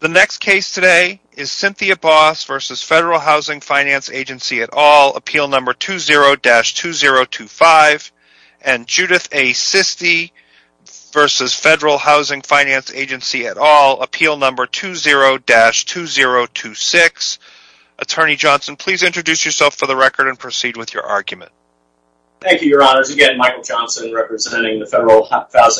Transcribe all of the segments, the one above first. The next case today is Cynthia Boss v. Federal Housing Finance Agency et al., Appeal No. 20-2025, and Judith A. Sisti v. Federal Housing Finance Agency et al., Appeal No. 20-2026. Attorney Johnson, please introduce yourself for the record and proceed with your argument. Thank you, Your Honors. Again, Michael Johnson, representing the Federal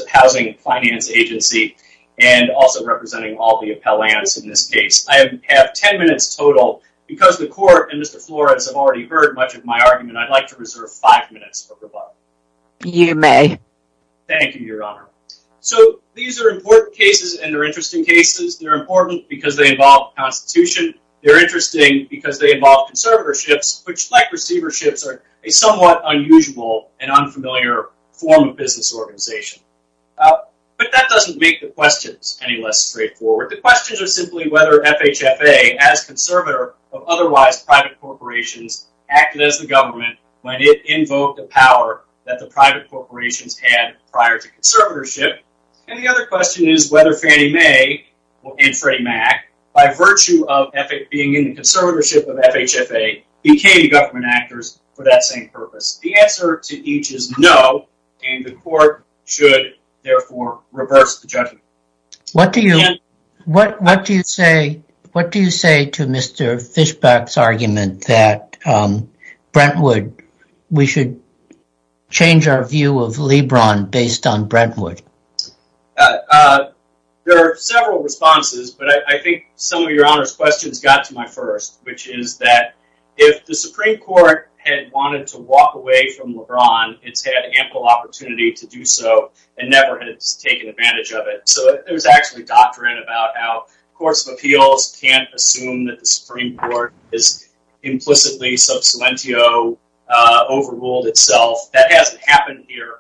Housing Finance Agency and also representing all the appellants in this case. I have ten minutes total. Because the Court and Mr. Flores have already heard much of my argument, I'd like to reserve five minutes for rebuttal. You may. Thank you, Your Honor. So these are important cases, and they're interesting cases. They're important because they involve the Constitution. They're interesting because they involve conservatorships, which, like receiverships, are a somewhat unusual and unfamiliar form of business organization. But that doesn't make the questions any less straightforward. The questions are simply whether FHFA, as conservator of otherwise private corporations, acted as the government when it invoked a power that the private corporations had prior to conservatorship. And the other question is whether Fannie Mae and Freddie Mac, by virtue of being in the conservatorship of FHFA, became government actors for that same purpose. The answer to each is no, and the Court should, therefore, reverse the judgment. What do you say to Mr. Fischbach's argument that we should change our view of LeBron based on Brentwood? There are several responses, but I think some of Your Honor's questions got to my first, which is that if the Supreme Court had wanted to walk away from LeBron, it's had ample opportunity to do so, and never has taken advantage of it. So there's actually doctrine about how courts of appeals can't assume that the Supreme Court has implicitly sub silentio overruled itself. That hasn't happened here.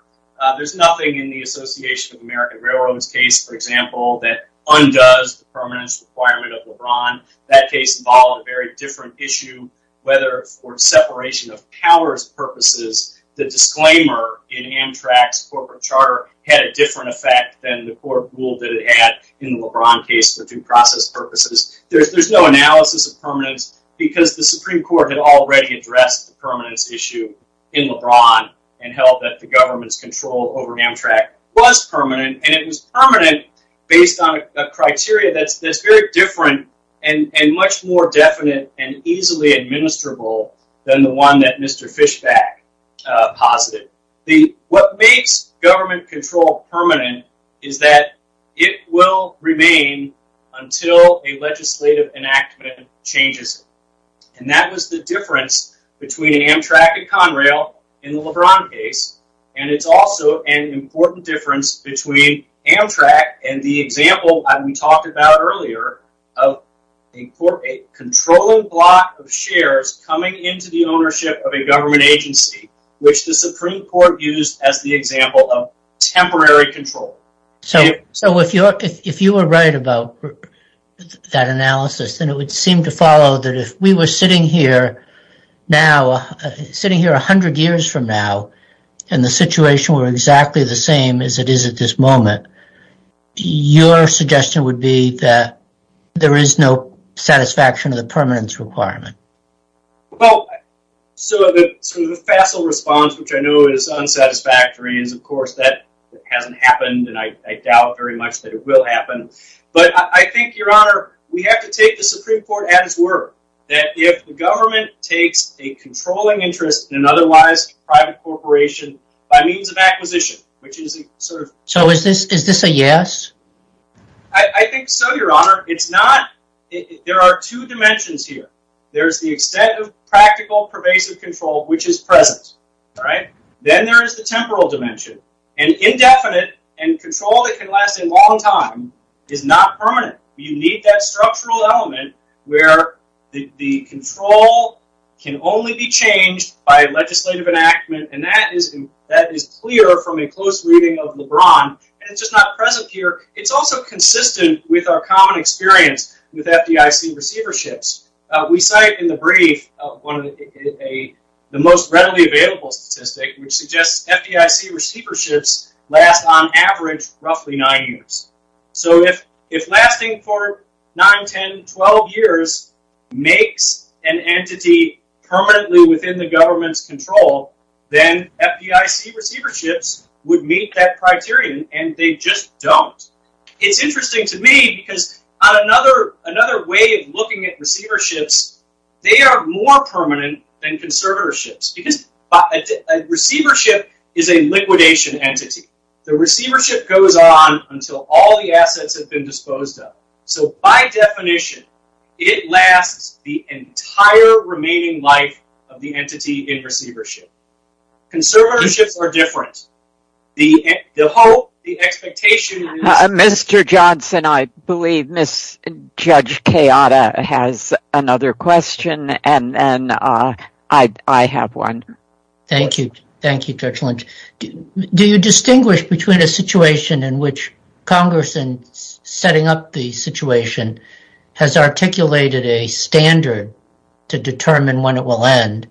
There's nothing in the Association of American Railroads case, for example, that undoes the permanence requirement of LeBron. That case involved a very different issue, whether for separation of powers purposes, the disclaimer in Amtrak's corporate charter had a different effect than the court ruled that it had in the LeBron case for due process purposes. There's no analysis of permanence, because the Supreme Court had already addressed the permanence issue in LeBron, and held that the government's control over Amtrak was permanent, and it was permanent based on a criteria that's very different and much more definite and easily administrable than the one that Mr. Fishback posited. What makes government control permanent is that it will remain until a legislative enactment changes it. And that was the difference between Amtrak and Conrail in the LeBron case, and it's also an important difference between Amtrak and the example we talked about earlier of a controlling block of shares coming into the ownership of a government agency, which the Supreme Court used as the example of temporary control. So if you were right about that analysis, then it would seem to follow that if we were sitting here a hundred years from now, and the situation were exactly the same as it is at this moment, your suggestion would be that there is no satisfaction of the permanence requirement. Well, so the facile response, which I know is unsatisfactory, is of course that hasn't happened, and I doubt very much that it will happen, but I think, Your Honor, we have to take the Supreme Court at its word that if the government takes a controlling interest in an otherwise private corporation by means of acquisition, which is a sort of... So is this a yes? I think so, Your Honor. There are two dimensions here. There's the extent of practical pervasive control, which is present, all right? Then there is the temporal dimension, and indefinite and control that can last a long time is not permanent. You need that structural element where the control can only be changed by legislative enactment, and that is clear from a close reading of LeBron, and it's just not present here. It's also consistent with our common experience with FDIC receiverships. We cite in the brief one of the most readily available statistics, which suggests FDIC receiverships last, on average, roughly nine years. So if lasting for nine, 10, 12 years makes an entity permanently within the government's control, then FDIC receiverships would meet that criterion, and they just don't. It's interesting to me because on another way of looking at receiverships, they are more permanent than conservatorships because a receivership is a liquidation entity. The receivership goes on until all the assets have been disposed of. So by definition, it lasts the entire remaining life of the entity in receivership. Conservatorships are different. The expectation is- Mr. Johnson, I believe Ms. Judge Kayada has another question, and I have one. Thank you. Thank you, Judge Lynch. Do you distinguish between a situation in which Congress, in setting up the situation, has articulated a standard to determine when it will end,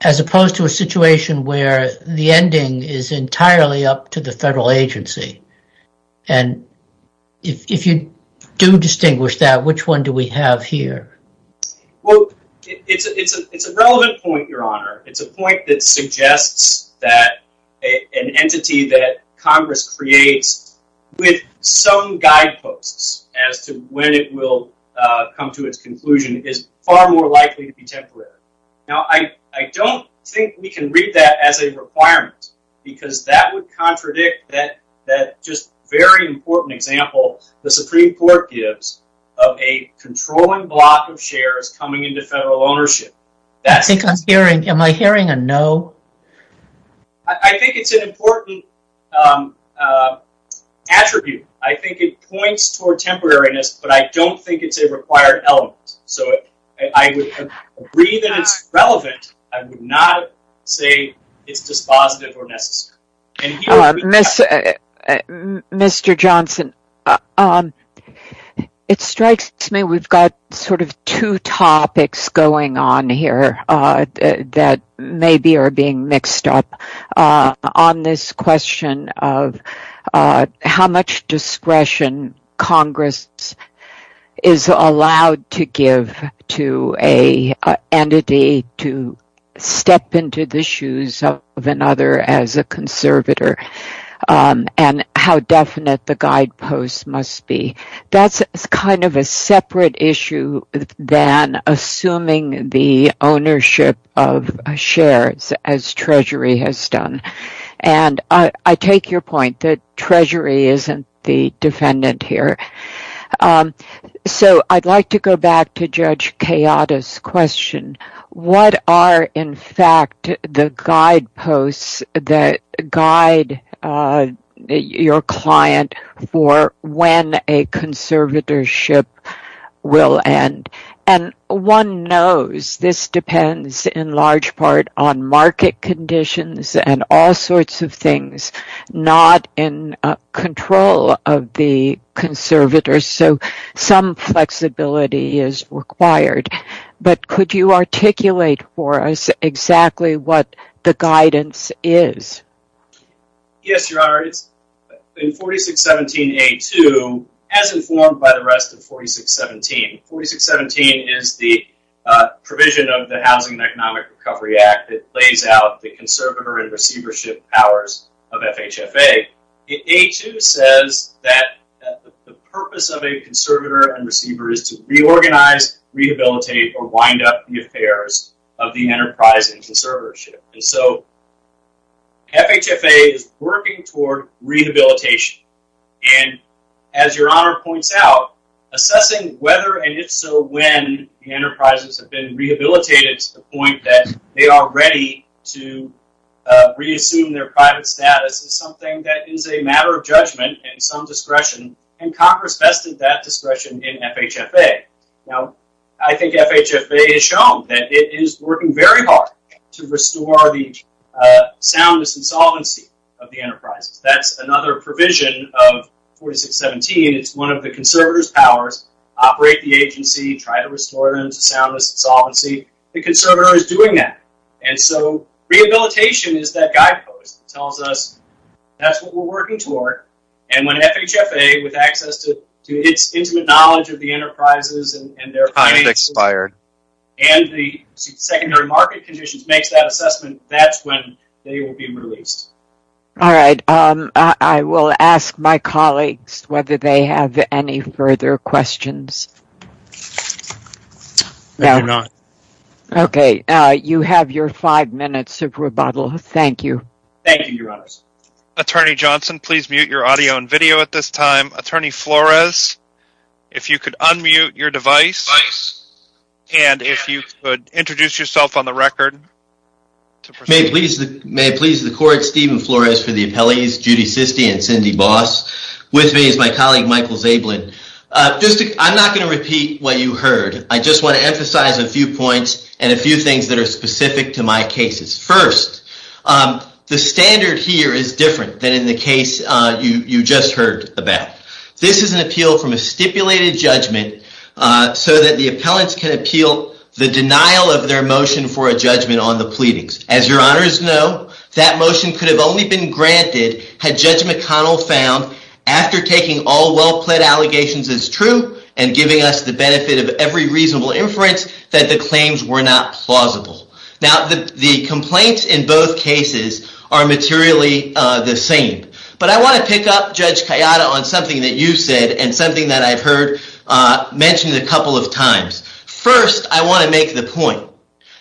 as opposed to a situation where the ending is entirely up to the federal agency? If you do distinguish that, which one do we have here? Well, it's a relevant point, Your Honor. It's a point that suggests that an entity that Congress creates with some guideposts as to when it will come to its conclusion is far more likely to be temporary. Now, I don't think we can read that as a requirement because that would contradict that just very important example the Supreme Court gives of a controlling block of shares coming into federal ownership. Am I hearing a no? I think it's an important attribute. I think it points toward temporariness, but I don't think it's a required element. So I would agree that it's relevant. I would not say it's dispositive or necessary. Mr. Johnson, it strikes me we've got sort of two topics going on here that maybe are being mixed up on this question of how much discretion Congress is allowed to give to an entity to step into the shoes of another as a conservator and how definite the guideposts must be. That's kind of a separate issue than assuming the ownership of shares as Treasury has done. I take your point that Treasury isn't the defendant here. I'd like to go back to Judge Kayada's question. What are, in fact, the guideposts that guide your client for when a conservatorship will end? One knows this depends in large part on market conditions and all sorts of things not in control of the conservators, so some flexibility is required. But could you articulate for us exactly what the guidance is? Yes, Your Honor, in 4617A2, as informed by the rest of 4617, 4617 is the provision of the Housing and Economic Recovery Act that lays out the conservator and receivership powers of FHFA. In 4617A2 says that the purpose of a conservator and receiver is to reorganize, rehabilitate, or wind up the affairs of the enterprise and conservatorship. So FHFA is working toward rehabilitation, and as Your Honor points out, assessing whether and if so when the enterprises have been rehabilitated to the point that they are ready to reassume their private status is something that is a matter of judgment and some discretion, and Congress vested that discretion in FHFA. Now I think FHFA has shown that it is working very hard to restore the soundness and solvency of the enterprises. That's another provision of 4617. It's one of the conservators' powers, operate the agency, try to restore them to soundness and solvency. The conservator is doing that. And so rehabilitation is that guidepost that tells us that's what we're working toward, and when FHFA, with access to its intimate knowledge of the enterprises and their finances and the secondary market conditions, makes that assessment, that's when they will be released. All right. I will ask my colleagues whether they have any further questions. I do not. Okay. You have your five minutes of rebuttal. Thank you. Thank you, Your Honors. Attorney Johnson, please mute your audio and video at this time. Attorney Flores, if you could unmute your device and if you could introduce yourself on the record. May it please the court, Stephen Flores for the appellees, Judy Sisti and Cindy Boss. With me is my colleague Michael Zabelin. I'm not going to repeat what you heard. I just want to emphasize a few points and a few things that are specific to my cases. First, the standard here is different than in the case you just heard about. This is an appeal from a stipulated judgment so that the appellants can appeal the denial of their motion for a judgment on the pleadings. As Your Honors know, that motion could have only been granted had Judge McConnell found after taking all well-pled allegations as true and giving us the benefit of every reasonable inference that the claims were not plausible. Now, the complaints in both cases are materially the same. But I want to pick up Judge Kayada on something that you said and something that I've heard mentioned a couple of times. First, I want to make the point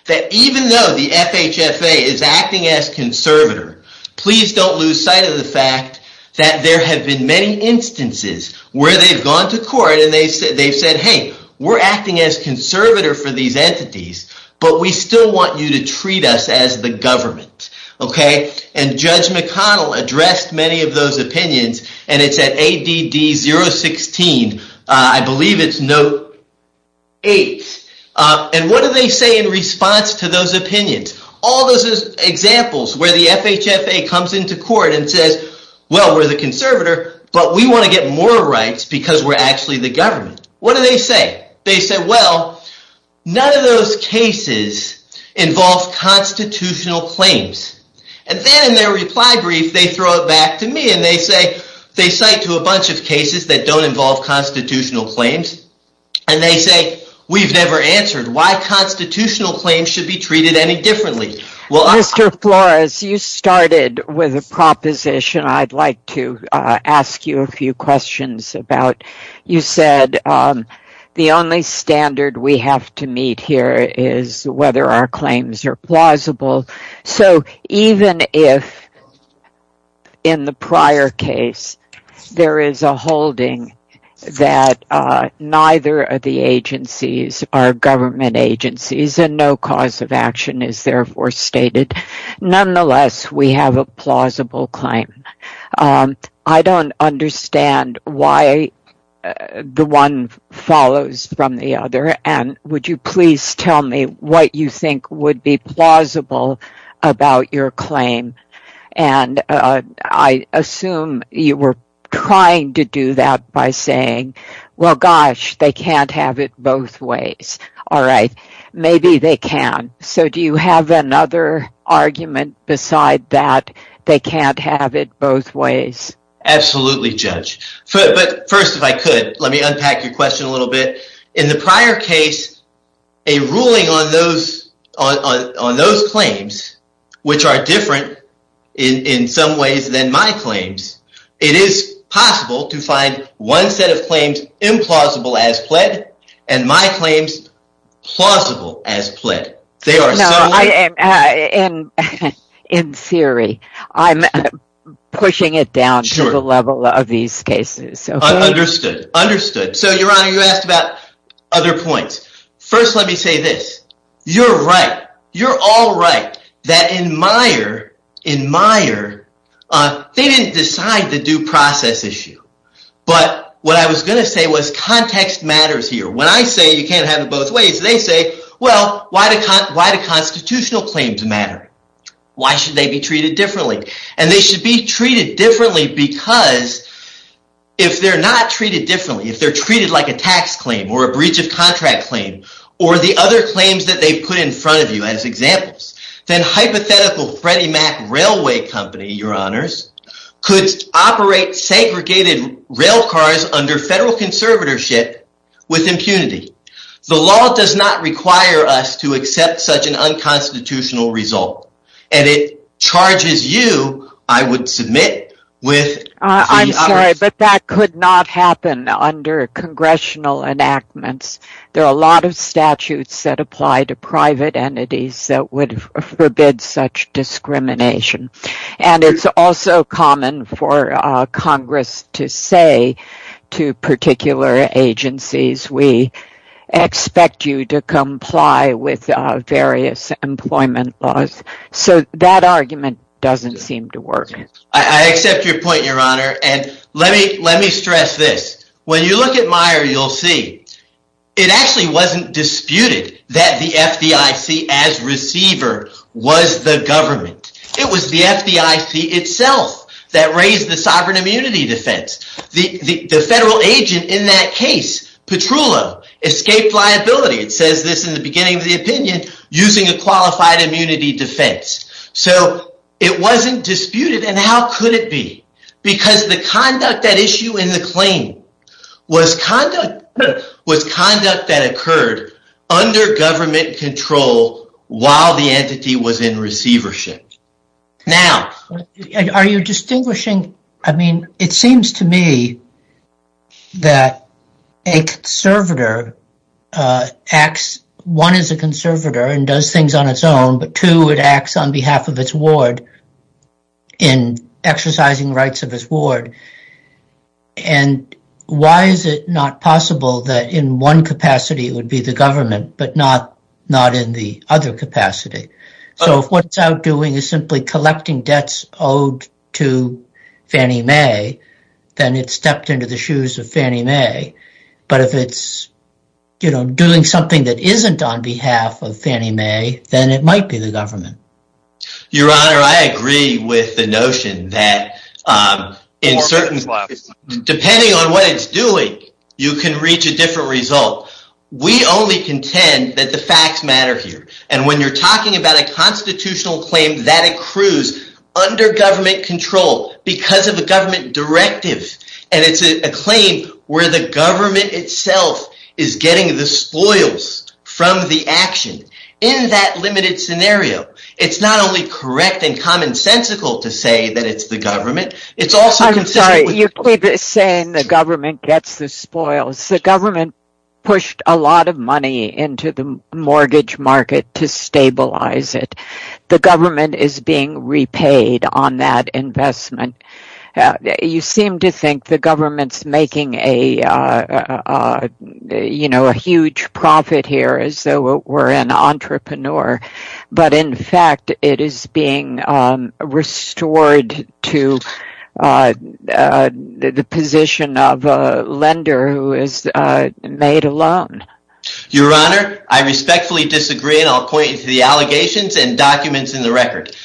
that even though the FHFA is acting as conservator, please don't lose sight of the fact that there have been many instances where they've gone to court and they've said, hey, we're acting as conservator for these entities, but we still want you to treat us as the government. And Judge McConnell addressed many of those opinions. And it's at ADD 016, I believe it's note 8. And what do they say in response to those opinions? All those examples where the FHFA comes into court and says, well, we're the conservator, but we want to get more rights because we're actually the government. What do they say? They say, well, none of those cases involve constitutional claims. And then in their reply brief, they throw it back to me and they cite to a bunch of cases that don't involve constitutional claims. And they say, we've never answered why constitutional claims should be treated any differently. Mr. Flores, you started with a proposition I'd like to ask you a few questions about. You said the only standard we have to meet here is whether our claims are plausible. So even if in the prior case there is a holding that neither of the agencies are government agencies and no cause of action is therefore stated, nonetheless, we have a plausible claim. I don't understand why the one follows from the other. And would you please tell me what you think would be plausible about your claim? And I assume you were trying to do that by saying, well, gosh, they can't have it both ways. All right. Maybe they can. So do you have another argument beside that, they can't have it both ways? Absolutely, Judge. But first, if I could, let me unpack your question a little bit. In the prior case, a ruling on those claims, which are different in some ways than my claims, it is possible to find one set of claims implausible as pled and my claims plausible as pled. No, in theory. I'm pushing it down to the level of these cases. Understood. Understood. So, Your Honor, you asked about other points. First, let me say this. You're right. You're all right that in Meyer, they didn't decide the due process issue. But what I was going to say was context matters here. When I say you can't have it both ways, they say, well, why do constitutional claims matter? Why should they be treated differently? And they should be treated differently because if they're not treated differently, if they're treated like a tax claim or a breach of contract claim or the other claims that they put in front of you as examples, then hypothetical Freddie Mac Railway Company, Your Honors, could operate segregated rail cars under federal conservatorship with impunity. The law does not require us to accept such an unconstitutional result. And it charges you, I would submit, with… I'm sorry, but that could not happen under congressional enactments. There are a lot of statutes that apply to private entities that would forbid such discrimination. And it's also common for Congress to say to particular agencies, we expect you to comply with various employment laws. So that argument doesn't seem to work. I accept your point, Your Honor. And let me stress this. When you look at Meyer, you'll see it actually wasn't disputed that the FDIC as receiver was the government. It was the FDIC itself that raised the sovereign immunity defense. The federal agent in that case, Petrullo, escaped liability, it says this in the beginning of the opinion, using a qualified immunity defense. So it wasn't disputed, and how could it be? Because the conduct at issue in the claim was conduct that occurred under government control while the entity was in receivership. Now… Are you distinguishing… I mean, it seems to me that a conservator acts… in exercising rights of his ward. And why is it not possible that in one capacity would be the government, but not in the other capacity? So if what it's out doing is simply collecting debts owed to Fannie Mae, then it stepped into the shoes of Fannie Mae. But if it's doing something that isn't on behalf of Fannie Mae, then it might be the government. Your Honor, I agree with the notion that depending on what it's doing, you can reach a different result. We only contend that the facts matter here. And when you're talking about a constitutional claim that accrues under government control because of a government directive, and it's a claim where the government itself is getting the spoils from the action, in that limited scenario, it's not only correct and commonsensical to say that it's the government, it's also… I'm sorry. You keep saying the government gets the spoils. The government pushed a lot of money into the mortgage market to stabilize it. The government is being repaid on that investment. You seem to think the government's making a huge profit here as though it were an entrepreneur. But in fact, it is being restored to the position of a lender who has made a loan. Your Honor, I respectfully disagree, and I'll point you to the allegations and documents in the record.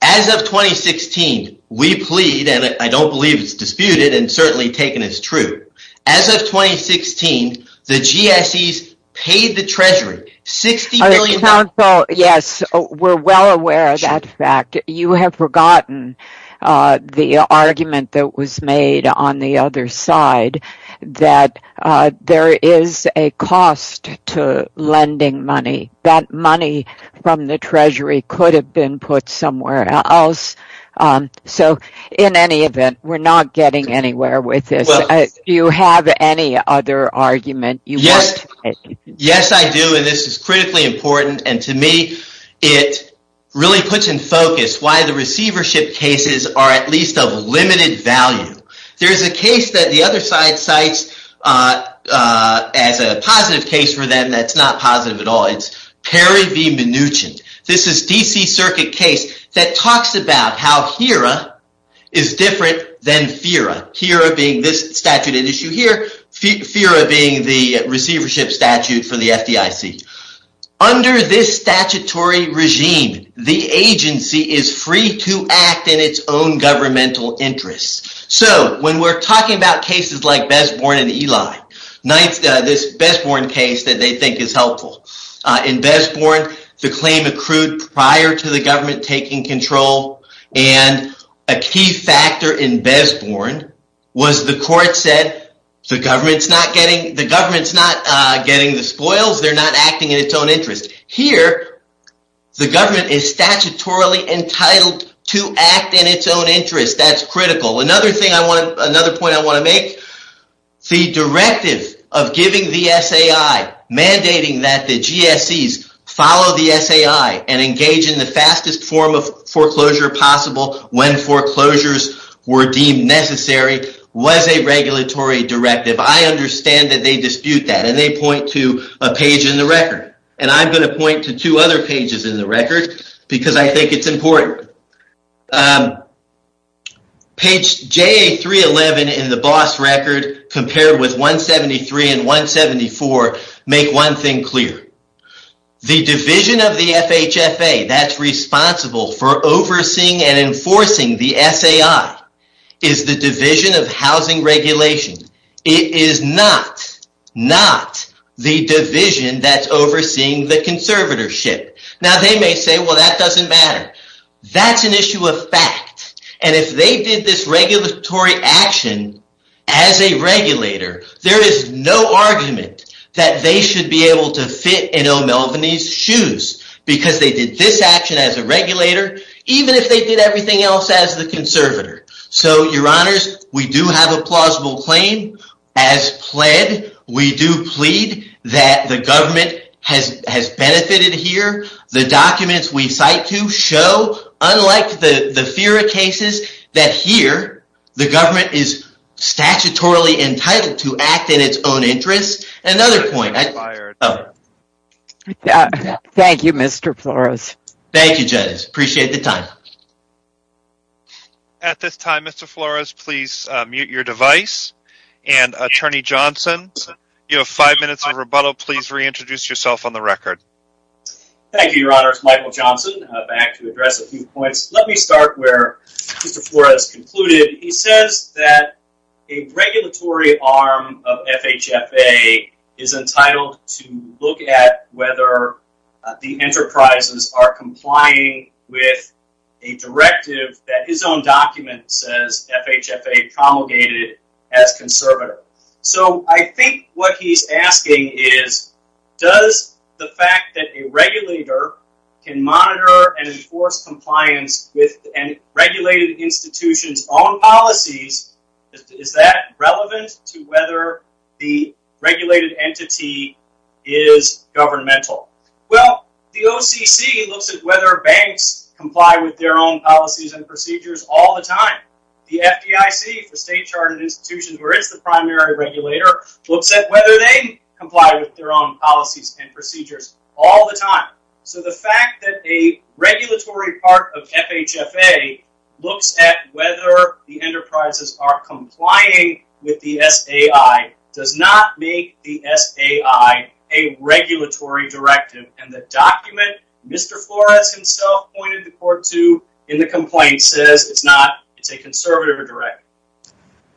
As of 2016, we plead, and I don't believe it's disputed and certainly taken as true. As of 2016, the GSEs paid the Treasury $60 billion. Yes, we're well aware of that fact. You have forgotten the argument that was made on the other side that there is a cost to lending money. That money from the Treasury could have been put somewhere else. In any event, we're not getting anywhere with this. Do you have any other argument? Yes, I do, and this is critically important. To me, it really puts in focus why the receivership cases are at least of limited value. There is a case that the other side cites as a positive case for them that's not positive at all. It's Perry v. Mnuchin. This is a D.C. Circuit case that talks about how HERA is different than FERA, HERA being this statute at issue here, FERA being the receivership statute for the FDIC. Under this statutory regime, the agency is free to act in its own governmental interests. When we're talking about cases like Besborn v. Eli, this Besborn case that they think is helpful. In Besborn, the claim accrued prior to the government taking control, and a key factor in Besborn was the court said the government's not getting the spoils. They're not acting in its own interest. Here, the government is statutorily entitled to act in its own interest. That's critical. Another point I want to make, the directive of giving the SAI, mandating that the GSEs follow the SAI and engage in the fastest form of foreclosure possible when foreclosures were deemed necessary was a regulatory directive. I understand that they dispute that, and they point to a page in the record. I'm going to point to two other pages in the record because I think it's important. Page JA311 in the BOSS record compared with 173 and 174 make one thing clear. The division of the FHFA that's responsible for overseeing and enforcing the SAI is the Division of Housing Regulation. It is not the division that's overseeing the conservatorship. Now, they may say, well, that doesn't matter. That's an issue of fact, and if they did this regulatory action as a regulator, there is no argument that they should be able to fit in O'Melveny's shoes because they did this action as a regulator even if they did everything else as the conservator. So, Your Honors, we do have a plausible claim. As pled, we do plead that the government has benefited here. The documents we cite to show, unlike the FERA cases, that here the government is statutorily entitled to act in its own interest. Another point. Thank you, Mr. Flores. Thank you, Judge. Appreciate the time. At this time, Mr. Flores, please mute your device. And, Attorney Johnson, you have five minutes of rebuttal. Please reintroduce yourself on the record. Thank you, Your Honors. Michael Johnson back to address a few points. Let me start where Mr. Flores concluded. He says that a regulatory arm of FHFA is entitled to look at whether the enterprises are complying with a directive that his own document says FHFA promulgated as conservator. So, I think what he's asking is does the fact that a regulator can monitor and enforce compliance with a regulated institution's own policies, is that relevant to whether the regulated entity is governmental? Well, the OCC looks at whether banks comply with their own policies and procedures all the time. The FDIC, the State Chartered Institution, where it's the primary regulator, looks at whether they comply with their own policies and procedures all the time. So, the fact that a regulatory part of FHFA looks at whether the enterprises are complying with the SAI does not make the SAI a regulatory directive, and the document Mr. Flores himself pointed the court to in the complaint says it's not. It's a conservative directive.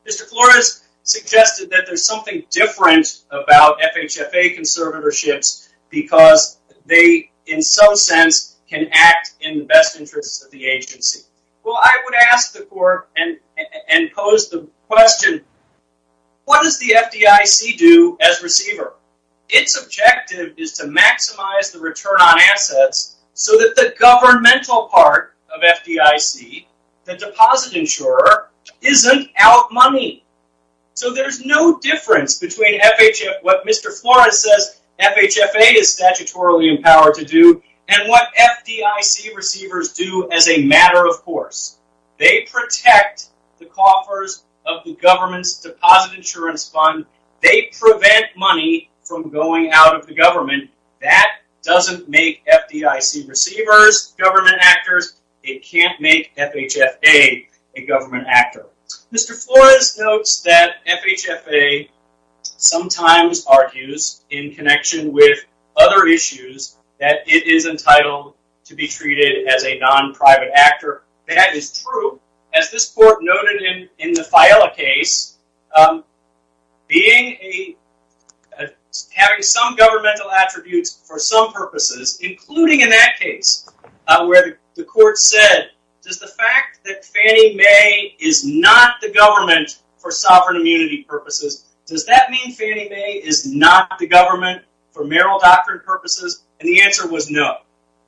Mr. Flores suggested that there's something different about FHFA conservatorships because they, in some sense, can act in the best interests of the agency. Well, I would ask the court and pose the question, what does the FDIC do as receiver? Its objective is to maximize the return on assets so that the governmental part of FDIC, the deposit insurer, isn't out money. So, there's no difference between what Mr. Flores says FHFA is statutorily empowered to do and what FDIC receivers do as a matter of course. They protect the coffers of the government's deposit insurance fund. They prevent money from going out of the government. That doesn't make FDIC receivers government actors. It can't make FHFA a government actor. Mr. Flores notes that FHFA sometimes argues in connection with other issues that it is entitled to be treated as a non-private actor. That is true. As this court noted in the FIALA case, having some governmental attributes for some purposes, including in that case, where the court said, does the fact that Fannie Mae is not the government for sovereign immunity purposes, does that mean Fannie Mae is not the government for mayoral doctrine purposes? And the answer was no.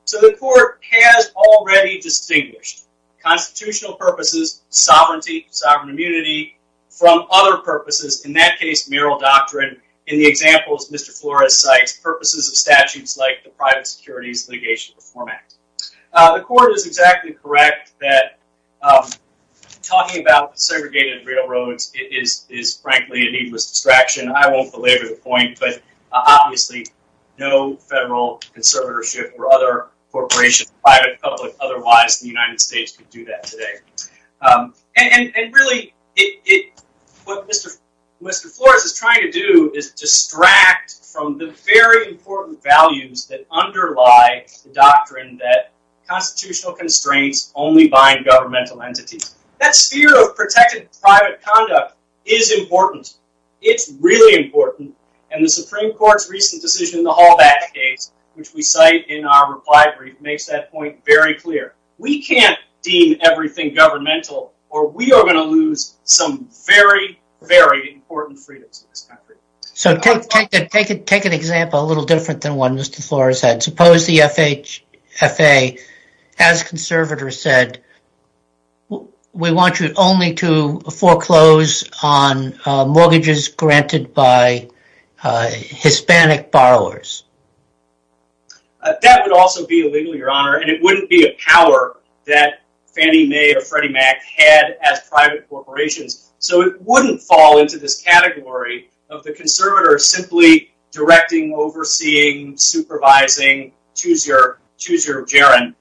So, the court has already distinguished constitutional purposes, sovereignty, sovereign immunity, from other purposes, in that case mayoral doctrine. In the examples Mr. Flores cites, purposes of statutes like the Private Securities Litigation Reform Act. The court is exactly correct that talking about segregated railroads is frankly a needless distraction. I won't belabor the point, but obviously no federal conservatorship or other corporation, private, public, otherwise in the United States could do that today. And really, what Mr. Flores is trying to do is distract from the very important values that underlie the doctrine that constitutional constraints only bind governmental entities. That sphere of protected private conduct is important. It's really important. And the Supreme Court's recent decision in the Halbach case, which we cite in our reply brief, makes that point very clear. We can't deem everything governmental or we are going to lose some very, very important freedoms in this country. So, take an example a little different than one Mr. Flores had. Suppose the FHFA, as conservators said, we want you only to foreclose on mortgages granted by Hispanic borrowers. That would also be illegal, Your Honor, and it wouldn't be a power that Fannie Mae or Freddie Mac had as private corporations. So, it wouldn't fall into this category of the conservators simply directing, overseeing, supervising, choose your gerund.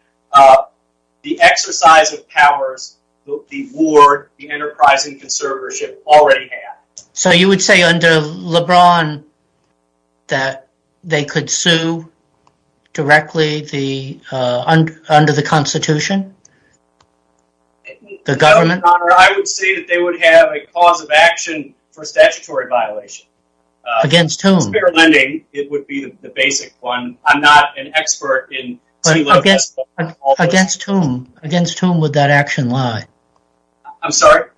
The exercise of powers, the ward, the enterprising conservatorship already had. So, you would say under LeBron that they could sue directly under the Constitution, the government? Your Honor, I would say that they would have a cause of action for statutory violation. Against whom? Spare lending, it would be the basic one. I'm not an expert in... Against whom? Against whom would that action lie? I'm sorry?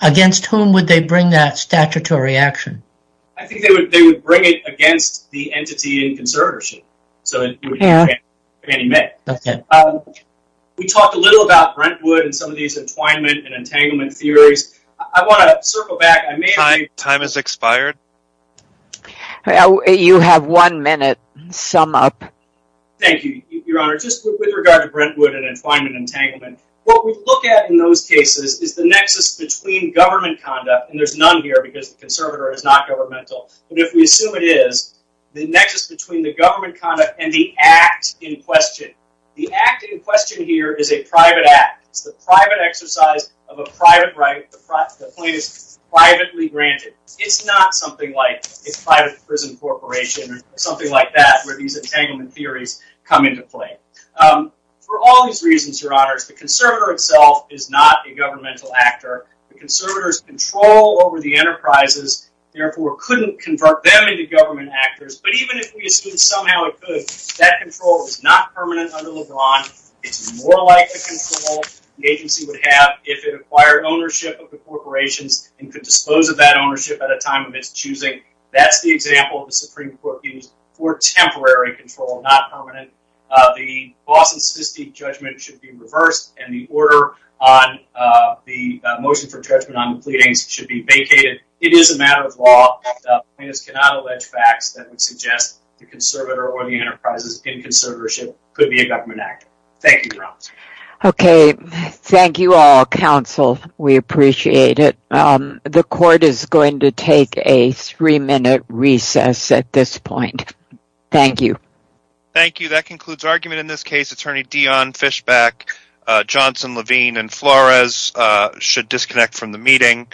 Against whom would they bring that statutory action? I think they would bring it against the entity in conservatorship. So, it would be Fannie Mae. Okay. We talked a little about Brentwood and some of these entwinement and entanglement theories. I want to circle back, I may have... Time has expired. You have one minute, sum up. Thank you, Your Honor. Just with regard to Brentwood and entwinement and entanglement, what we look at in those cases is the nexus between government conduct, and there's none here because the conservator is not governmental, but if we assume it is, the nexus between the government conduct and the act in question. The act in question here is a private act. It's the private exercise of a private right, the plaintiff's privately granted. It's not something like a private prison corporation or something like that where these entanglement theories come into play. For all these reasons, Your Honors, the conservator itself is not a governmental actor. The conservator's control over the enterprises, therefore, couldn't convert them into government actors, but even if we assume somehow it could, that control is not permanent under LeBron. It's more like the control the agency would have if it acquired ownership of the corporations and could dispose of that ownership at a time of its choosing. That's the example the Supreme Court used for temporary control, not permanent. The Boston statistic judgment should be reversed, and the order on the motion for judgment on the pleadings should be vacated. It is a matter of law. Plaintiffs cannot allege facts that would suggest the conservator or the enterprises in conservatorship could be a government actor. Thank you, Your Honors. Okay. Thank you all. Counsel, we appreciate it. The court is going to take a three-minute recess at this point. Thank you. Thank you. That concludes argument in this case. Attorney Dionne Fishback, Johnson, Levine, and Flores should disconnect from the meeting.